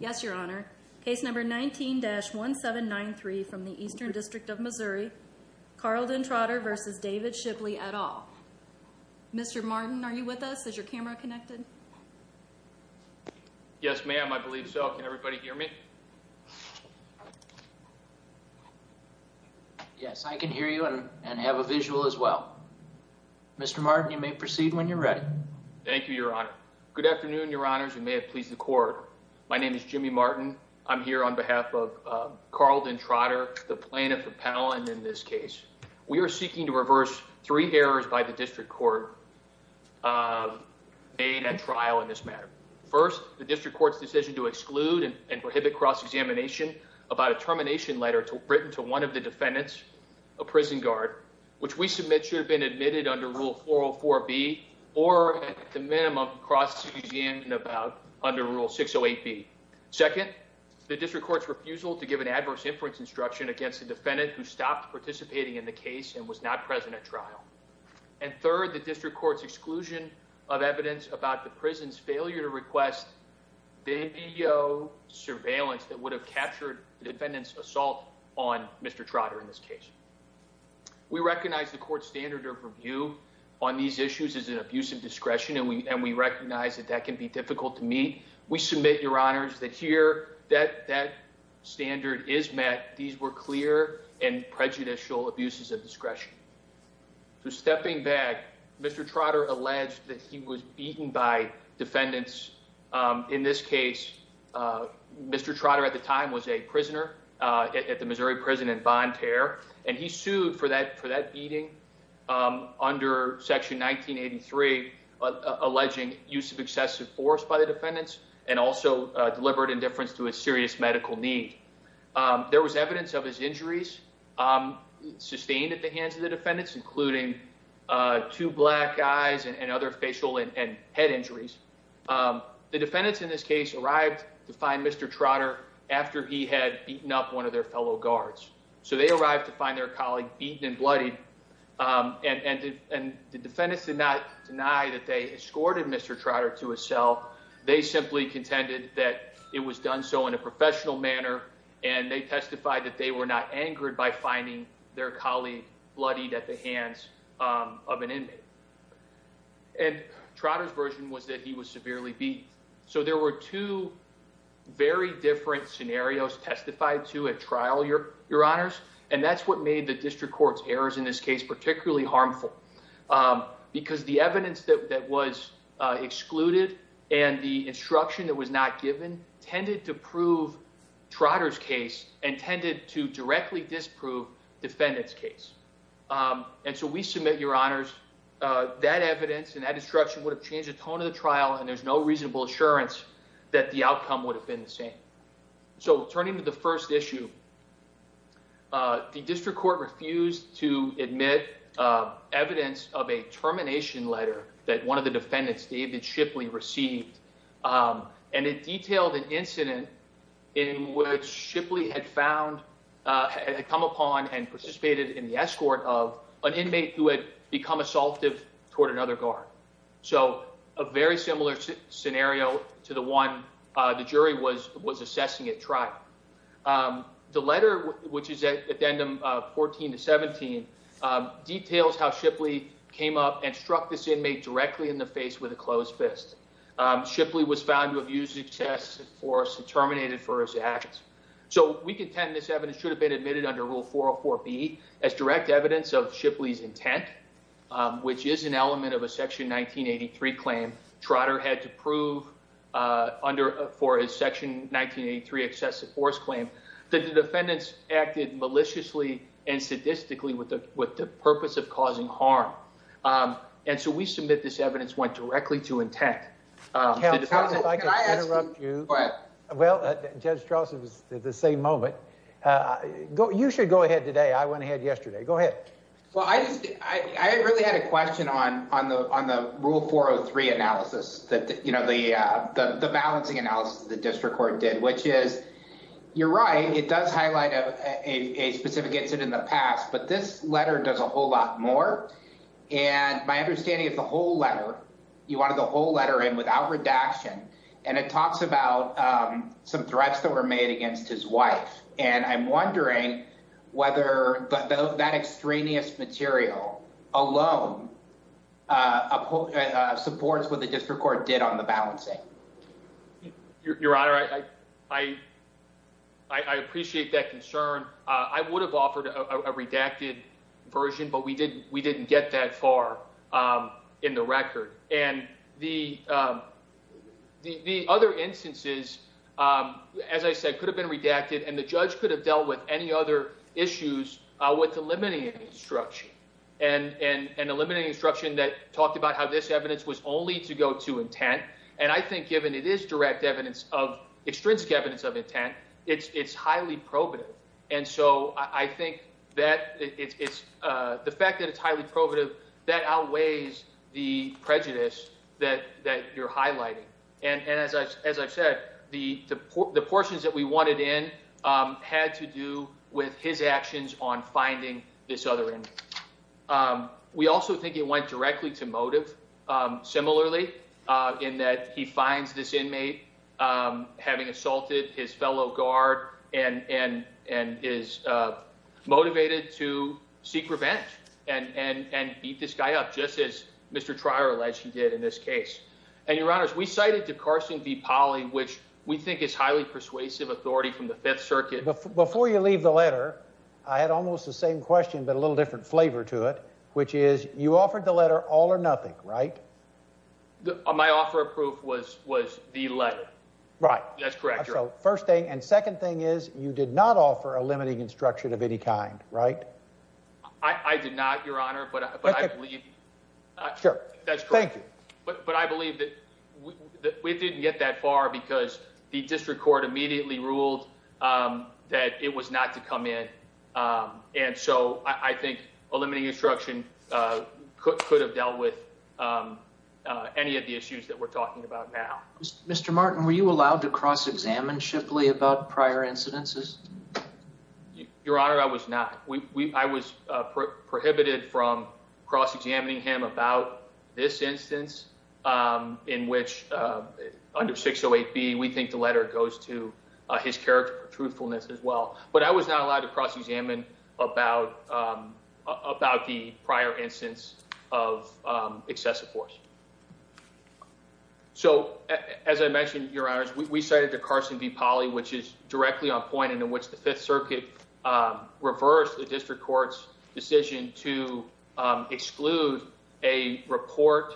Yes, Your Honor. Case number 19-1793 from the Eastern District of Missouri, Carlden Trotter v. David Shipley, et al. Mr. Martin, are you with us? Is your camera connected? Yes, ma'am. I believe so. Can everybody hear me? Yes, I can hear you and have a visual as well. Mr. Martin, you may proceed when you're ready. Thank you, Your Honor. Good afternoon, Your Honors, and may it please the Court. My name is Jimmy Martin. I'm here on behalf of Carlden Trotter, the plaintiff appellant in this case. We are seeking to reverse three errors by the District Court made at trial in this matter. First, the District Court's decision to exclude and prohibit cross-examination about a termination letter written to one of the defendants, a prison guard, which we submit should have been admitted under Rule 404B or, at the minimum, cross-examination under Rule 608B. Second, the District Court's refusal to give an adverse inference instruction against the defendant who stopped participating in the case and was not present at trial. And third, the District Court's exclusion of evidence about the prison's failure to request video surveillance that would have captured the defendant's assault on Mr. Trotter in this case. We recognize the Court's standard of review on these issues is an abuse of discretion, and we recognize that that can be difficult to meet. We submit, Your Honors, that here that standard is met. These were clear and prejudicial abuses of discretion. So stepping back, Mr. Trotter alleged that he was beaten by defendants. In this case, Mr. Trotter at the time was a prisoner at the Missouri prison in Von Tare, and he sued for that beating under Section 1983, alleging use of excessive force by the defendants and also deliberate indifference to a serious medical need. There was evidence of his injuries sustained at the hands of the defendants, including two black eyes and other facial and head injuries. The defendants in this case arrived to find Mr. Trotter after he had beaten up one of their fellow guards. So they arrived to find their colleague beaten and bloodied, and the defendants did not deny that they escorted Mr. Trotter to his cell. They simply contended that it was done so in a professional manner, and they testified that they were not angered by finding their colleague bloodied at the hands of an inmate. And Trotter's version was that he was severely beaten. So there were two very different scenarios testified to at trial, Your Honors, and that's what made the District Court's errors in this case particularly harmful. Because the evidence that was excluded and the instruction that was not given tended to prove Trotter's case and tended to directly disprove defendants' case. And so we submit, Your Honors, that evidence and that instruction would have changed the tone of the trial, and there's no reasonable assurance that the outcome would have been the same. So turning to the first issue, the District Court refused to admit evidence of a termination letter that one of the defendants, David Shipley, received. And it detailed an incident in which Shipley had found – had come upon and participated in the escort of an inmate who had become assaultive toward another guard. So a very similar scenario to the one the jury was assessing at trial. The letter, which is addendum 14 to 17, details how Shipley came up and struck this inmate directly in the face with a closed fist. Shipley was found to have used excessive force and terminated for his actions. So we contend this evidence should have been admitted under Rule 404B as direct evidence of Shipley's intent, which is an element of a Section 1983 claim. Trotter had to prove under – for his Section 1983 excessive force claim that the defendants acted maliciously and sadistically with the purpose of causing harm. And so we submit this evidence went directly to intent. Counsel, if I could interrupt you. Go ahead. Well, Judge Trotter was at the same moment. You should go ahead today. I went ahead yesterday. Go ahead. Well, I just – I really had a question on the Rule 403 analysis, the balancing analysis the District Court did, which is you're right. It does highlight a specific incident in the past. But this letter does a whole lot more. And my understanding is the whole letter – you wanted the whole letter in without redaction, and it talks about some threats that were made against his wife. And I'm wondering whether that extraneous material alone supports what the District Court did on the balancing. Your Honor, I appreciate that concern. I would have offered a redacted version, but we didn't get that far in the record. And the other instances, as I said, could have been redacted, and the judge could have dealt with any other issues with eliminating instruction and eliminating instruction that talked about how this evidence was only to go to intent. And I think given it is direct evidence of – extrinsic evidence of intent, it's highly probative. And so I think that it's – the fact that it's highly probative, that outweighs the prejudice that you're highlighting. And as I've said, the portions that we wanted in had to do with his actions on finding this other inmate. We also think it went directly to motive, similarly, in that he finds this inmate having assaulted his fellow guard and is motivated to seek revenge and beat this guy up, just as Mr. Trier alleged he did in this case. And, Your Honors, we cited De Carson v. Polley, which we think is highly persuasive authority from the Fifth Circuit. Before you leave the letter, I had almost the same question but a little different flavor to it, which is you offered the letter all or nothing, right? My offer of proof was the letter. Right. That's correct. So first thing – and second thing is you did not offer a limiting instruction of any kind, right? I did not, Your Honor, but I believe – Sure. That's correct. Thank you. But I believe that we didn't get that far because the district court immediately ruled that it was not to come in. And so I think a limiting instruction could have dealt with any of the issues that we're talking about now. Mr. Martin, were you allowed to cross-examine Shipley about prior incidences? Your Honor, I was not. I was prohibited from cross-examining him about this instance in which, under 608B, we think the letter goes to his character for truthfulness as well. But I was not allowed to cross-examine about the prior instance of excessive force. So as I mentioned, Your Honors, we cited the Carson v. Polley, which is directly on point, and in which the Fifth Circuit reversed the district court's decision to exclude a report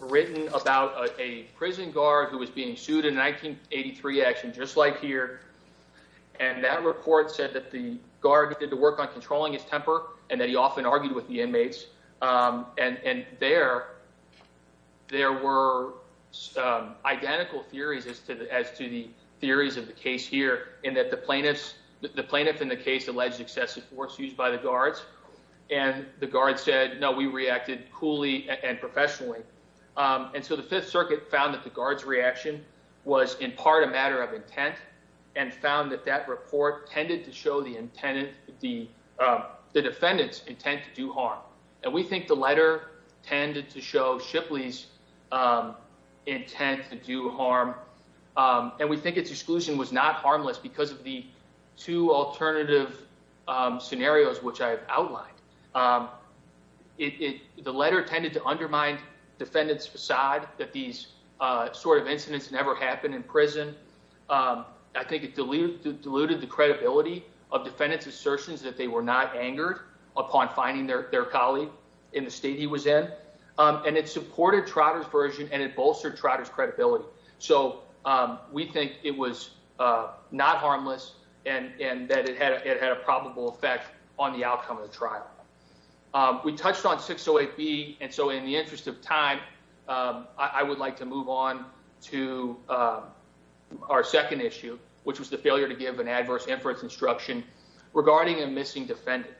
written about a prison guard who was being sued in a 1983 action just like here. And that report said that the guard did the work on controlling his temper and that he often argued with the inmates. And there were identical theories as to the theories of the case here in that the plaintiff in the case alleged excessive force used by the guards, and the guards said, no, we reacted coolly and professionally. And so the Fifth Circuit found that the guards' reaction was in part a matter of intent and found that that report tended to show the defendant's intent to do harm. And we think the letter tended to show Shipley's intent to do harm. And we think its exclusion was not harmless because of the two alternative scenarios which I have outlined. The letter tended to undermine defendants' facade that these sort of incidents never happened in prison. I think it diluted the credibility of defendants' assertions that they were not angered upon finding their colleague in the state he was in. And it supported Trotter's version and it bolstered Trotter's credibility. So we think it was not harmless and that it had a probable effect on the outcome of the trial. We touched on 608B, and so in the interest of time, I would like to move on to our second issue, which was the failure to give an adverse inference instruction regarding a missing defendant.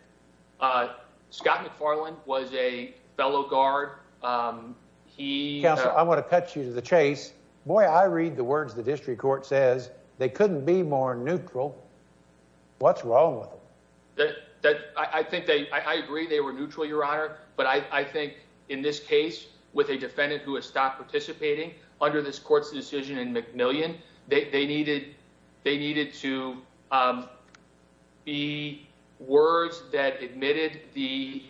Scott McFarland was a fellow guard. Counsel, I want to cut you to the chase. Boy, I read the words the district court says. They couldn't be more neutral. What's wrong with them? I agree they were neutral, Your Honor. But I think in this case, with a defendant who has stopped participating under this court's decision in McMillian, they needed to be words that admitted the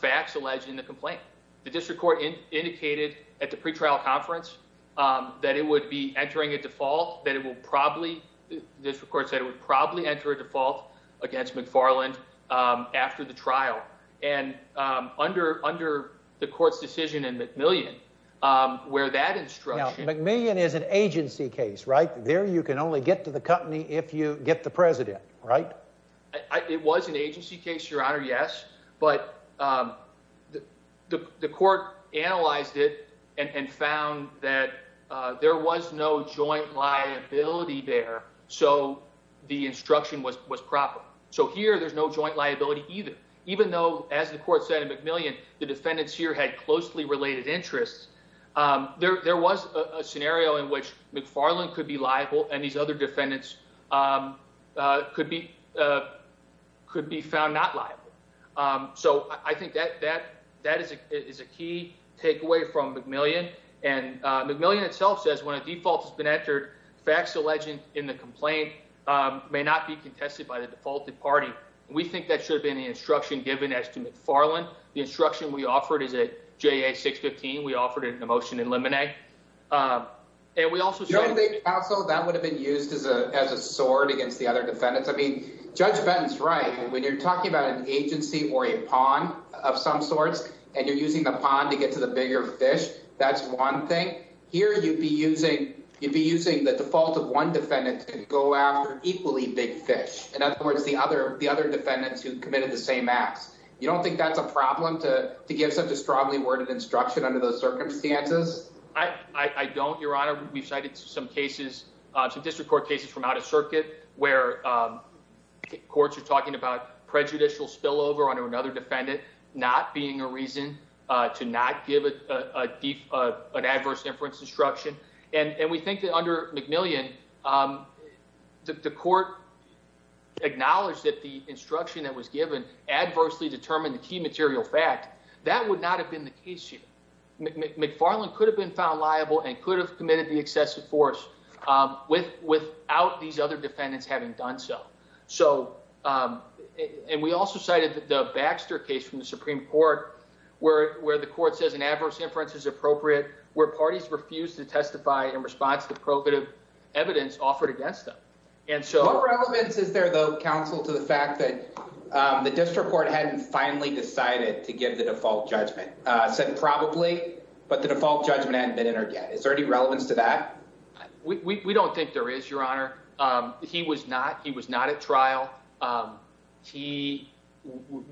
facts alleged in the complaint. The district court indicated at the pretrial conference that it would be entering a default, that it would probably, the district court said it would probably enter a default against McFarland after the trial. And under the court's decision in McMillian, where that instruction... Now, McMillian is an agency case, right? There you can only get to the company if you get the president, right? It was an agency case, Your Honor, yes. But the court analyzed it and found that there was no joint liability there, so the instruction was proper. So here there's no joint liability either. Even though, as the court said in McMillian, the defendants here had closely related interests, there was a scenario in which McFarland could be liable and these other defendants could be found not liable. So I think that is a key takeaway from McMillian. And McMillian itself says when a default has been entered, facts alleged in the complaint may not be contested by the defaulted party. We think that should have been the instruction given as to McFarland. The instruction we offered is at JA-615. We offered it in a motion in Lemonnier. And we also said... Your Honor, I think also that would have been used as a sword against the other defendants. I mean, Judge Benton's right. When you're talking about an agency or a pawn of some sorts and you're using the pawn to get to the bigger fish, that's one thing. Here you'd be using the default of one defendant to go after equally big fish. In other words, the other defendants who committed the same acts. You don't think that's a problem to give such a strongly worded instruction under those circumstances? I don't, Your Honor. We've cited some cases, some district court cases from out of circuit where courts are talking about prejudicial spillover under another defendant not being a reason to not give an adverse inference instruction. And we think that under McMillian, the court acknowledged that the instruction that was given adversely determined the key material fact. That would not have been the case here. McFarland could have been found liable and could have committed the excessive force without these other defendants having done so. And we also cited the Baxter case from the Supreme Court where the court says an adverse inference is appropriate, where parties refused to testify in response to the evidence offered against them. What relevance is there, though, counsel, to the fact that the district court hadn't finally decided to give the default judgment? Said probably, but the default judgment hadn't been entered yet. Is there any relevance to that? We don't think there is, Your Honor. He was not he was not at trial. He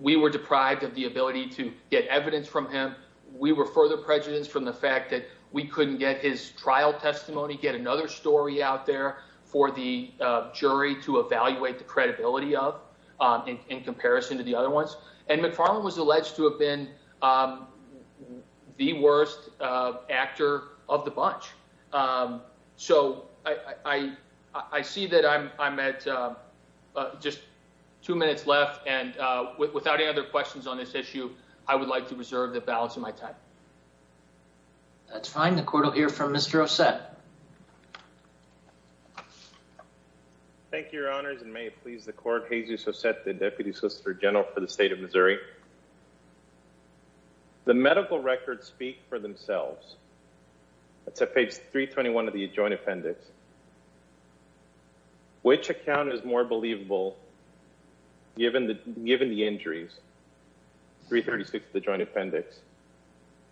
we were deprived of the ability to get evidence from him. We were further prejudiced from the fact that we couldn't get his trial testimony, get another story out there for the jury to evaluate the credibility of in comparison to the other ones. And McFarland was alleged to have been the worst actor of the bunch. So I I see that I'm I'm at just two minutes left. And without any other questions on this issue, I would like to reserve the balance of my time. That's fine. The court will hear from Mr. Ossett. Thank you, Your Honors. And may it please the court. The court will hear from Mr. Ossett, the deputy solicitor general for the state of Missouri. The medical records speak for themselves. That's page 321 of the joint appendix. Which account is more believable, given the given the injuries. Three thirty six, the joint appendix.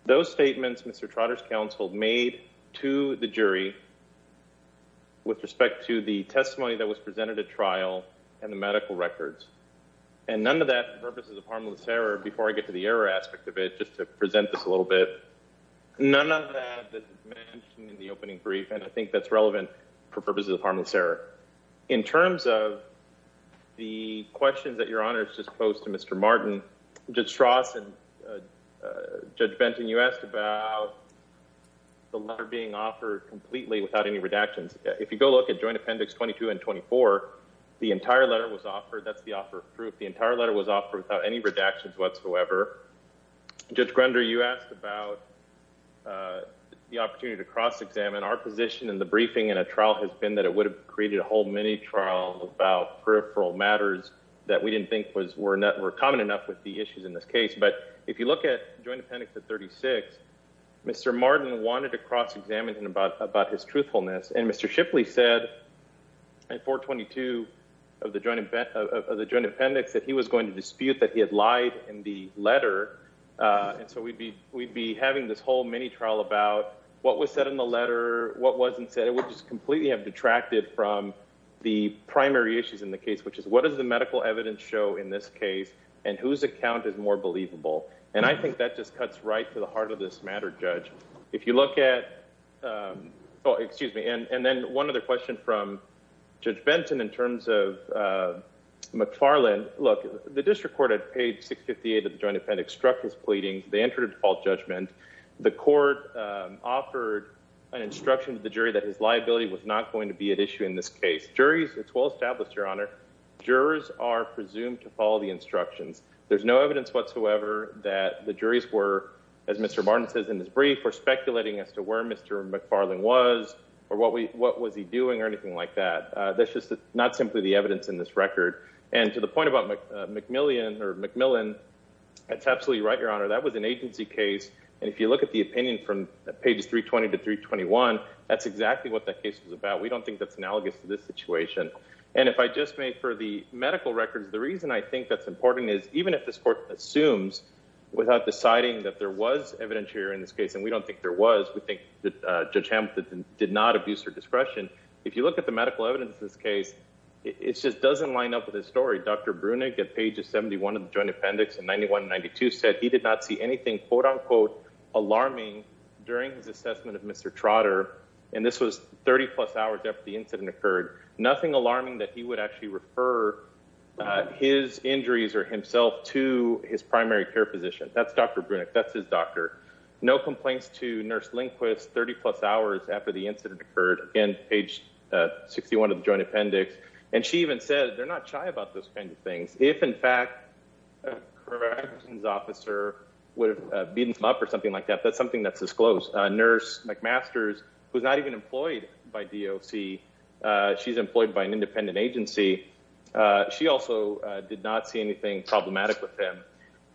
Those statements, Mr. Trotter's counsel made to the jury. With respect to the testimony that was presented at trial and the medical records. And none of that purposes of harmless error. Before I get to the error aspect of it, just to present this a little bit. None of that in the opening brief. And I think that's relevant for purposes of harmless error. In terms of. The questions that your honors just post to Mr. Martin. Just Ross and. Judge Benton, you asked about. The letter being offered completely without any redactions. If you go look at joint appendix, 22 and 24. The entire letter was offered. That's the offer of proof. The entire letter was offered without any redactions whatsoever. Judge Grender, you asked about. The opportunity to cross examine our position in the briefing. And a trial has been that it would have created a whole mini trial. About peripheral matters. That we didn't think was we're not. We're common enough with the issues in this case. But if you look at joint appendix at 36. Mr. Martin wanted to cross examine him about, about his truthfulness. And Mr. Shipley said. That he was going to dispute that he had lied in the letter. And so we'd be, we'd be having this whole mini trial about. What was said in the letter. What wasn't said it was just completely have detracted from. The primary issues in the case, which is what does the medical evidence. Show in this case. And whose account is more believable. And I think that just cuts right to the heart of this matter. Judge. If you look at. Oh, excuse me. And then one other question from. Judge Benson in terms of. McFarland look, the district court. Page six, 58 of the joint appendix struck his pleadings. They entered a default judgment. The court. Offered an instruction to the jury that his liability was not going to be at issue in this case. Juries. It's well established. Your honor. Jurors are presumed to follow the instructions. There's no evidence whatsoever that the juries were. As Mr. Martin says, in this brief, we're speculating as to where Mr. McFarland was. Or what we, what was he doing or anything like that? That's just not simply the evidence in this record. And to the point about McMillian or McMillan. That's absolutely right. Your honor. That was an agency case. And if you look at the opinion from. Pages 320 to 321. That's exactly what that case was about. We don't think that's analogous to this situation. And if I just made for the medical records, the reason I think that's important is even if this court assumes. That there was evidence here in this case. And we don't think there was, we think that judge Hampton did not abuse her discretion. If you look at the medical evidence, this case. It's just doesn't line up with this story. Dr. Brunig at pages 71 of the joint appendix and 91 92 said he did not see anything. Quote unquote alarming during his assessment of Mr. Trotter. And this was 30 plus hours after the incident occurred, nothing alarming that he would actually refer. His injuries or himself to his primary care physician. That's Dr. Brunig. That's his doctor. No complaints to nurse Lindquist, 30 plus hours after the incident occurred in page 61 of the joint appendix. And she even said they're not shy about those kinds of things. If in fact. Correct. His officer would have been up or something like that. That's something that's disclosed a nurse. McMaster's was not even employed by DOC. She's employed by an independent agency. She also did not see anything problematic with him.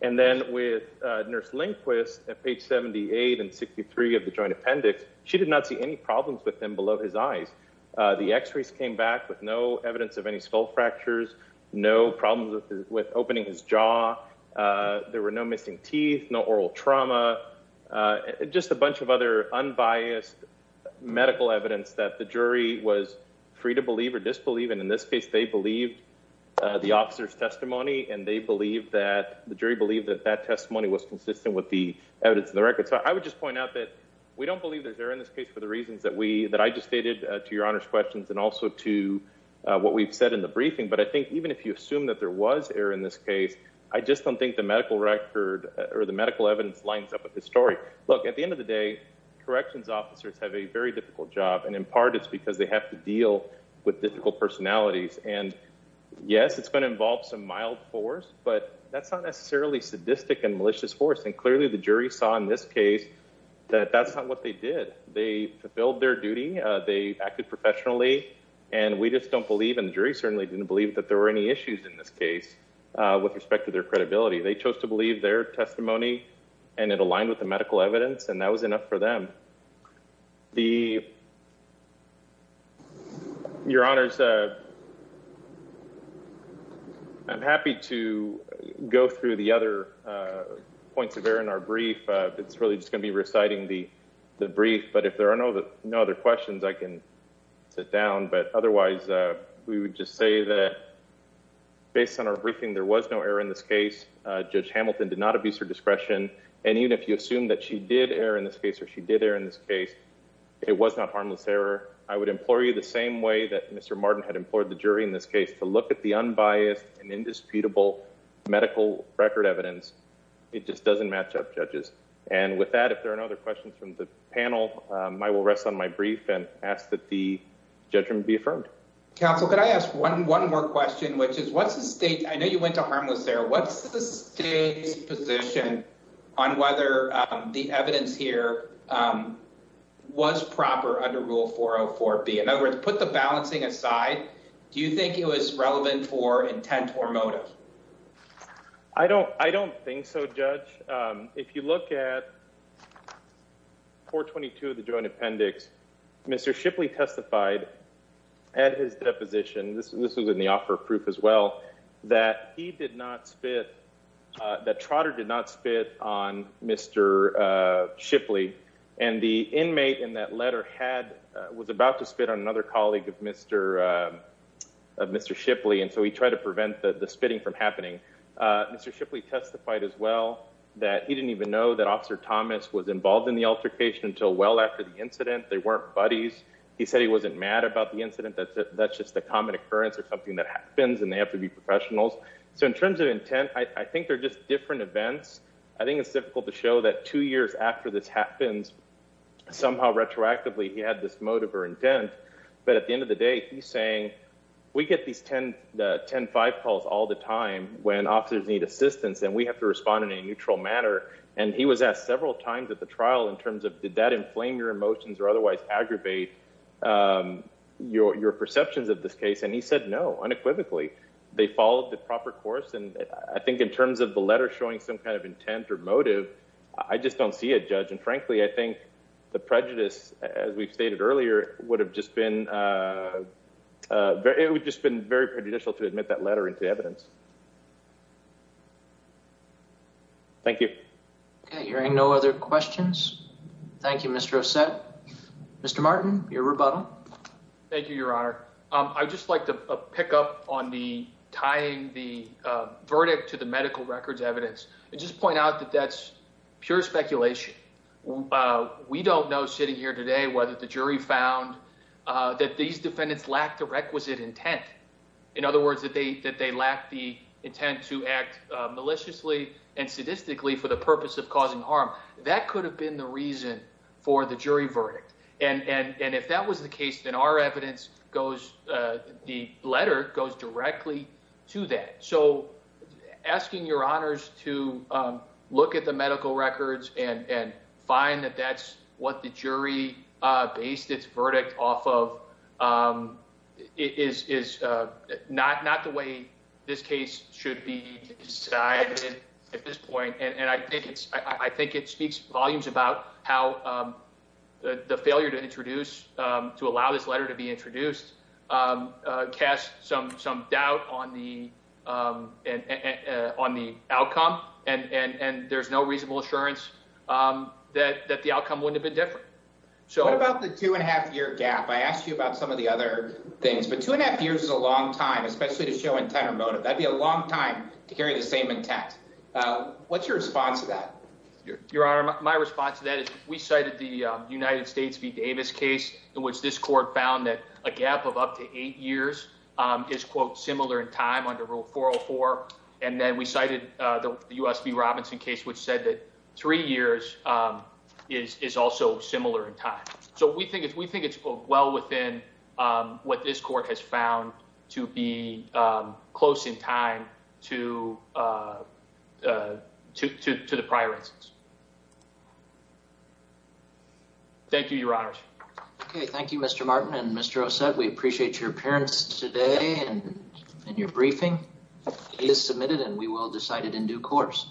And then with nurse Lindquist at page 78 and 63 of the joint appendix, she did not see any problems with them below his eyes. The x-rays came back with no evidence of any skull fractures, no problems with, with opening his jaw. There were no missing teeth, no oral trauma. Just a bunch of other unbiased. Medical evidence that the jury was free to believe or disbelieve. And in this case, they believed the officer's testimony and they believe that the jury believed that that testimony was consistent with the evidence of the record. So I would just point out that we don't believe there's there in this case for the reasons that we, that I just stated to your honors questions and also to what we've said in the briefing. But I think even if you assume that there was air in this case, I just don't think the medical record or the medical evidence lines up with the story. Look at the end of the day, corrections officers have a very difficult job. And in part it's because they have to deal with difficult personalities and yes, it's going to involve some mild force, but that's not necessarily sadistic and malicious force. And clearly the jury saw in this case that that's not what they did. They fulfilled their duty. They acted professionally and we just don't believe in the jury. Certainly didn't believe that there were any issues in this case with respect to their credibility. They chose to believe their testimony and it aligned with the medical evidence. And that was enough for them. The your honors. I'm happy to go through the other points of air in our brief. It's really just going to be reciting the, the brief, but if there are no other questions I can sit down, but otherwise, we would just say that based on our briefing, there was no error in this case. Judge Hamilton did not abuse her discretion. And even if you assume that she did air in this case, or she did air in this case, it was not harmless error. I would implore you the same way that Mr. Martin had implored the jury in this case to look at the unbiased and indisputable medical record evidence. It just doesn't match up judges. And with that, if there are no other questions from the panel, I will rest on my brief and ask that the judgment be affirmed council. Can I ask one more question, which is what's the state? I know you went to harmless there. What's the state's position on whether the evidence here was proper under rule 404 B in other words, put the balancing aside. Do you think it was relevant for intent or motive? I don't, I don't think so. Judge. If you look at four 22, the joint appendix, Mr. Shipley testified at his deposition. This was in the offer of proof as well that he did not spit that Trotter did not spit on Mr. Shipley and the inmate in that letter had was about to spit on another colleague of Mr. Mr. Shipley. And so he tried to prevent the spitting from happening. Mr. Shipley testified as well that he didn't even know that officer Thomas was involved in the altercation until well after the incident, they weren't buddies. He said he wasn't mad about the incident. That's just the common occurrence or something that happens and they have to be professionals. So in terms of intent, I think they're just different events. I think it's difficult to show that two years after this happens somehow retroactively, he had this motive or intent, but at the end of the day, he's saying we get these 10, the 10, five calls all the time when officers need assistance and we have to respond in a neutral manner. And he was asked several times at the trial in terms of did that inflame your emotions or otherwise aggravate your, your perceptions of this case. And he said, no, unequivocally, they followed the proper course. And I think in terms of the letter showing some kind of intent or motive, I just don't see a judge. And frankly, I think the prejudice, as we've stated earlier would have just been very, it would just been very prejudicial to admit that letter into evidence. Thank you. Okay. Hearing no other questions. Thank you, Mr. Ascent, Mr. Martin, your rebuttal. Thank you, your honor. I just like to pick up on the tying, the verdict to the medical records evidence, and just point out that that's pure speculation. We don't know sitting here today, whether the jury found that these defendants lack the requisite intent. In other words, that they, that they lack the intent to act maliciously and sadistically for the purpose of causing harm. That could have been the reason for the jury verdict. And, and, and if that was the case, then our evidence goes, the letter goes directly to that. So asking your honors to look at the medical records and, and find that that's what the jury based its verdict off of is not, not the way this case should be decided at this point. And I think it's, I think it speaks volumes about how the failure to introduce to allow this letter to be introduced cast some, some doubt on the and on the outcome. And, and, and there's no reasonable assurance that, that the outcome wouldn't have been different. So what about the two and a half year gap? I asked you about some of the other things, but two and a half years is a long time, especially to show intent or motive. That'd be a long time to carry the same intent. What's your response to that? Your honor. My response to that is we cited the United States V Davis case in which this court found that a gap of up to eight years is quote similar in time under rule 404. And then we cited the U S V Robinson case, which said that three years is, is also similar in time. So we think it's, we think it's well within what this court has found to be close in time to to, to, to the prior instance. Thank you, your honors. Okay. Thank you, Mr. Martin and Mr. Osset. We appreciate your appearance today and in your briefing is submitted and we will decide it in due course.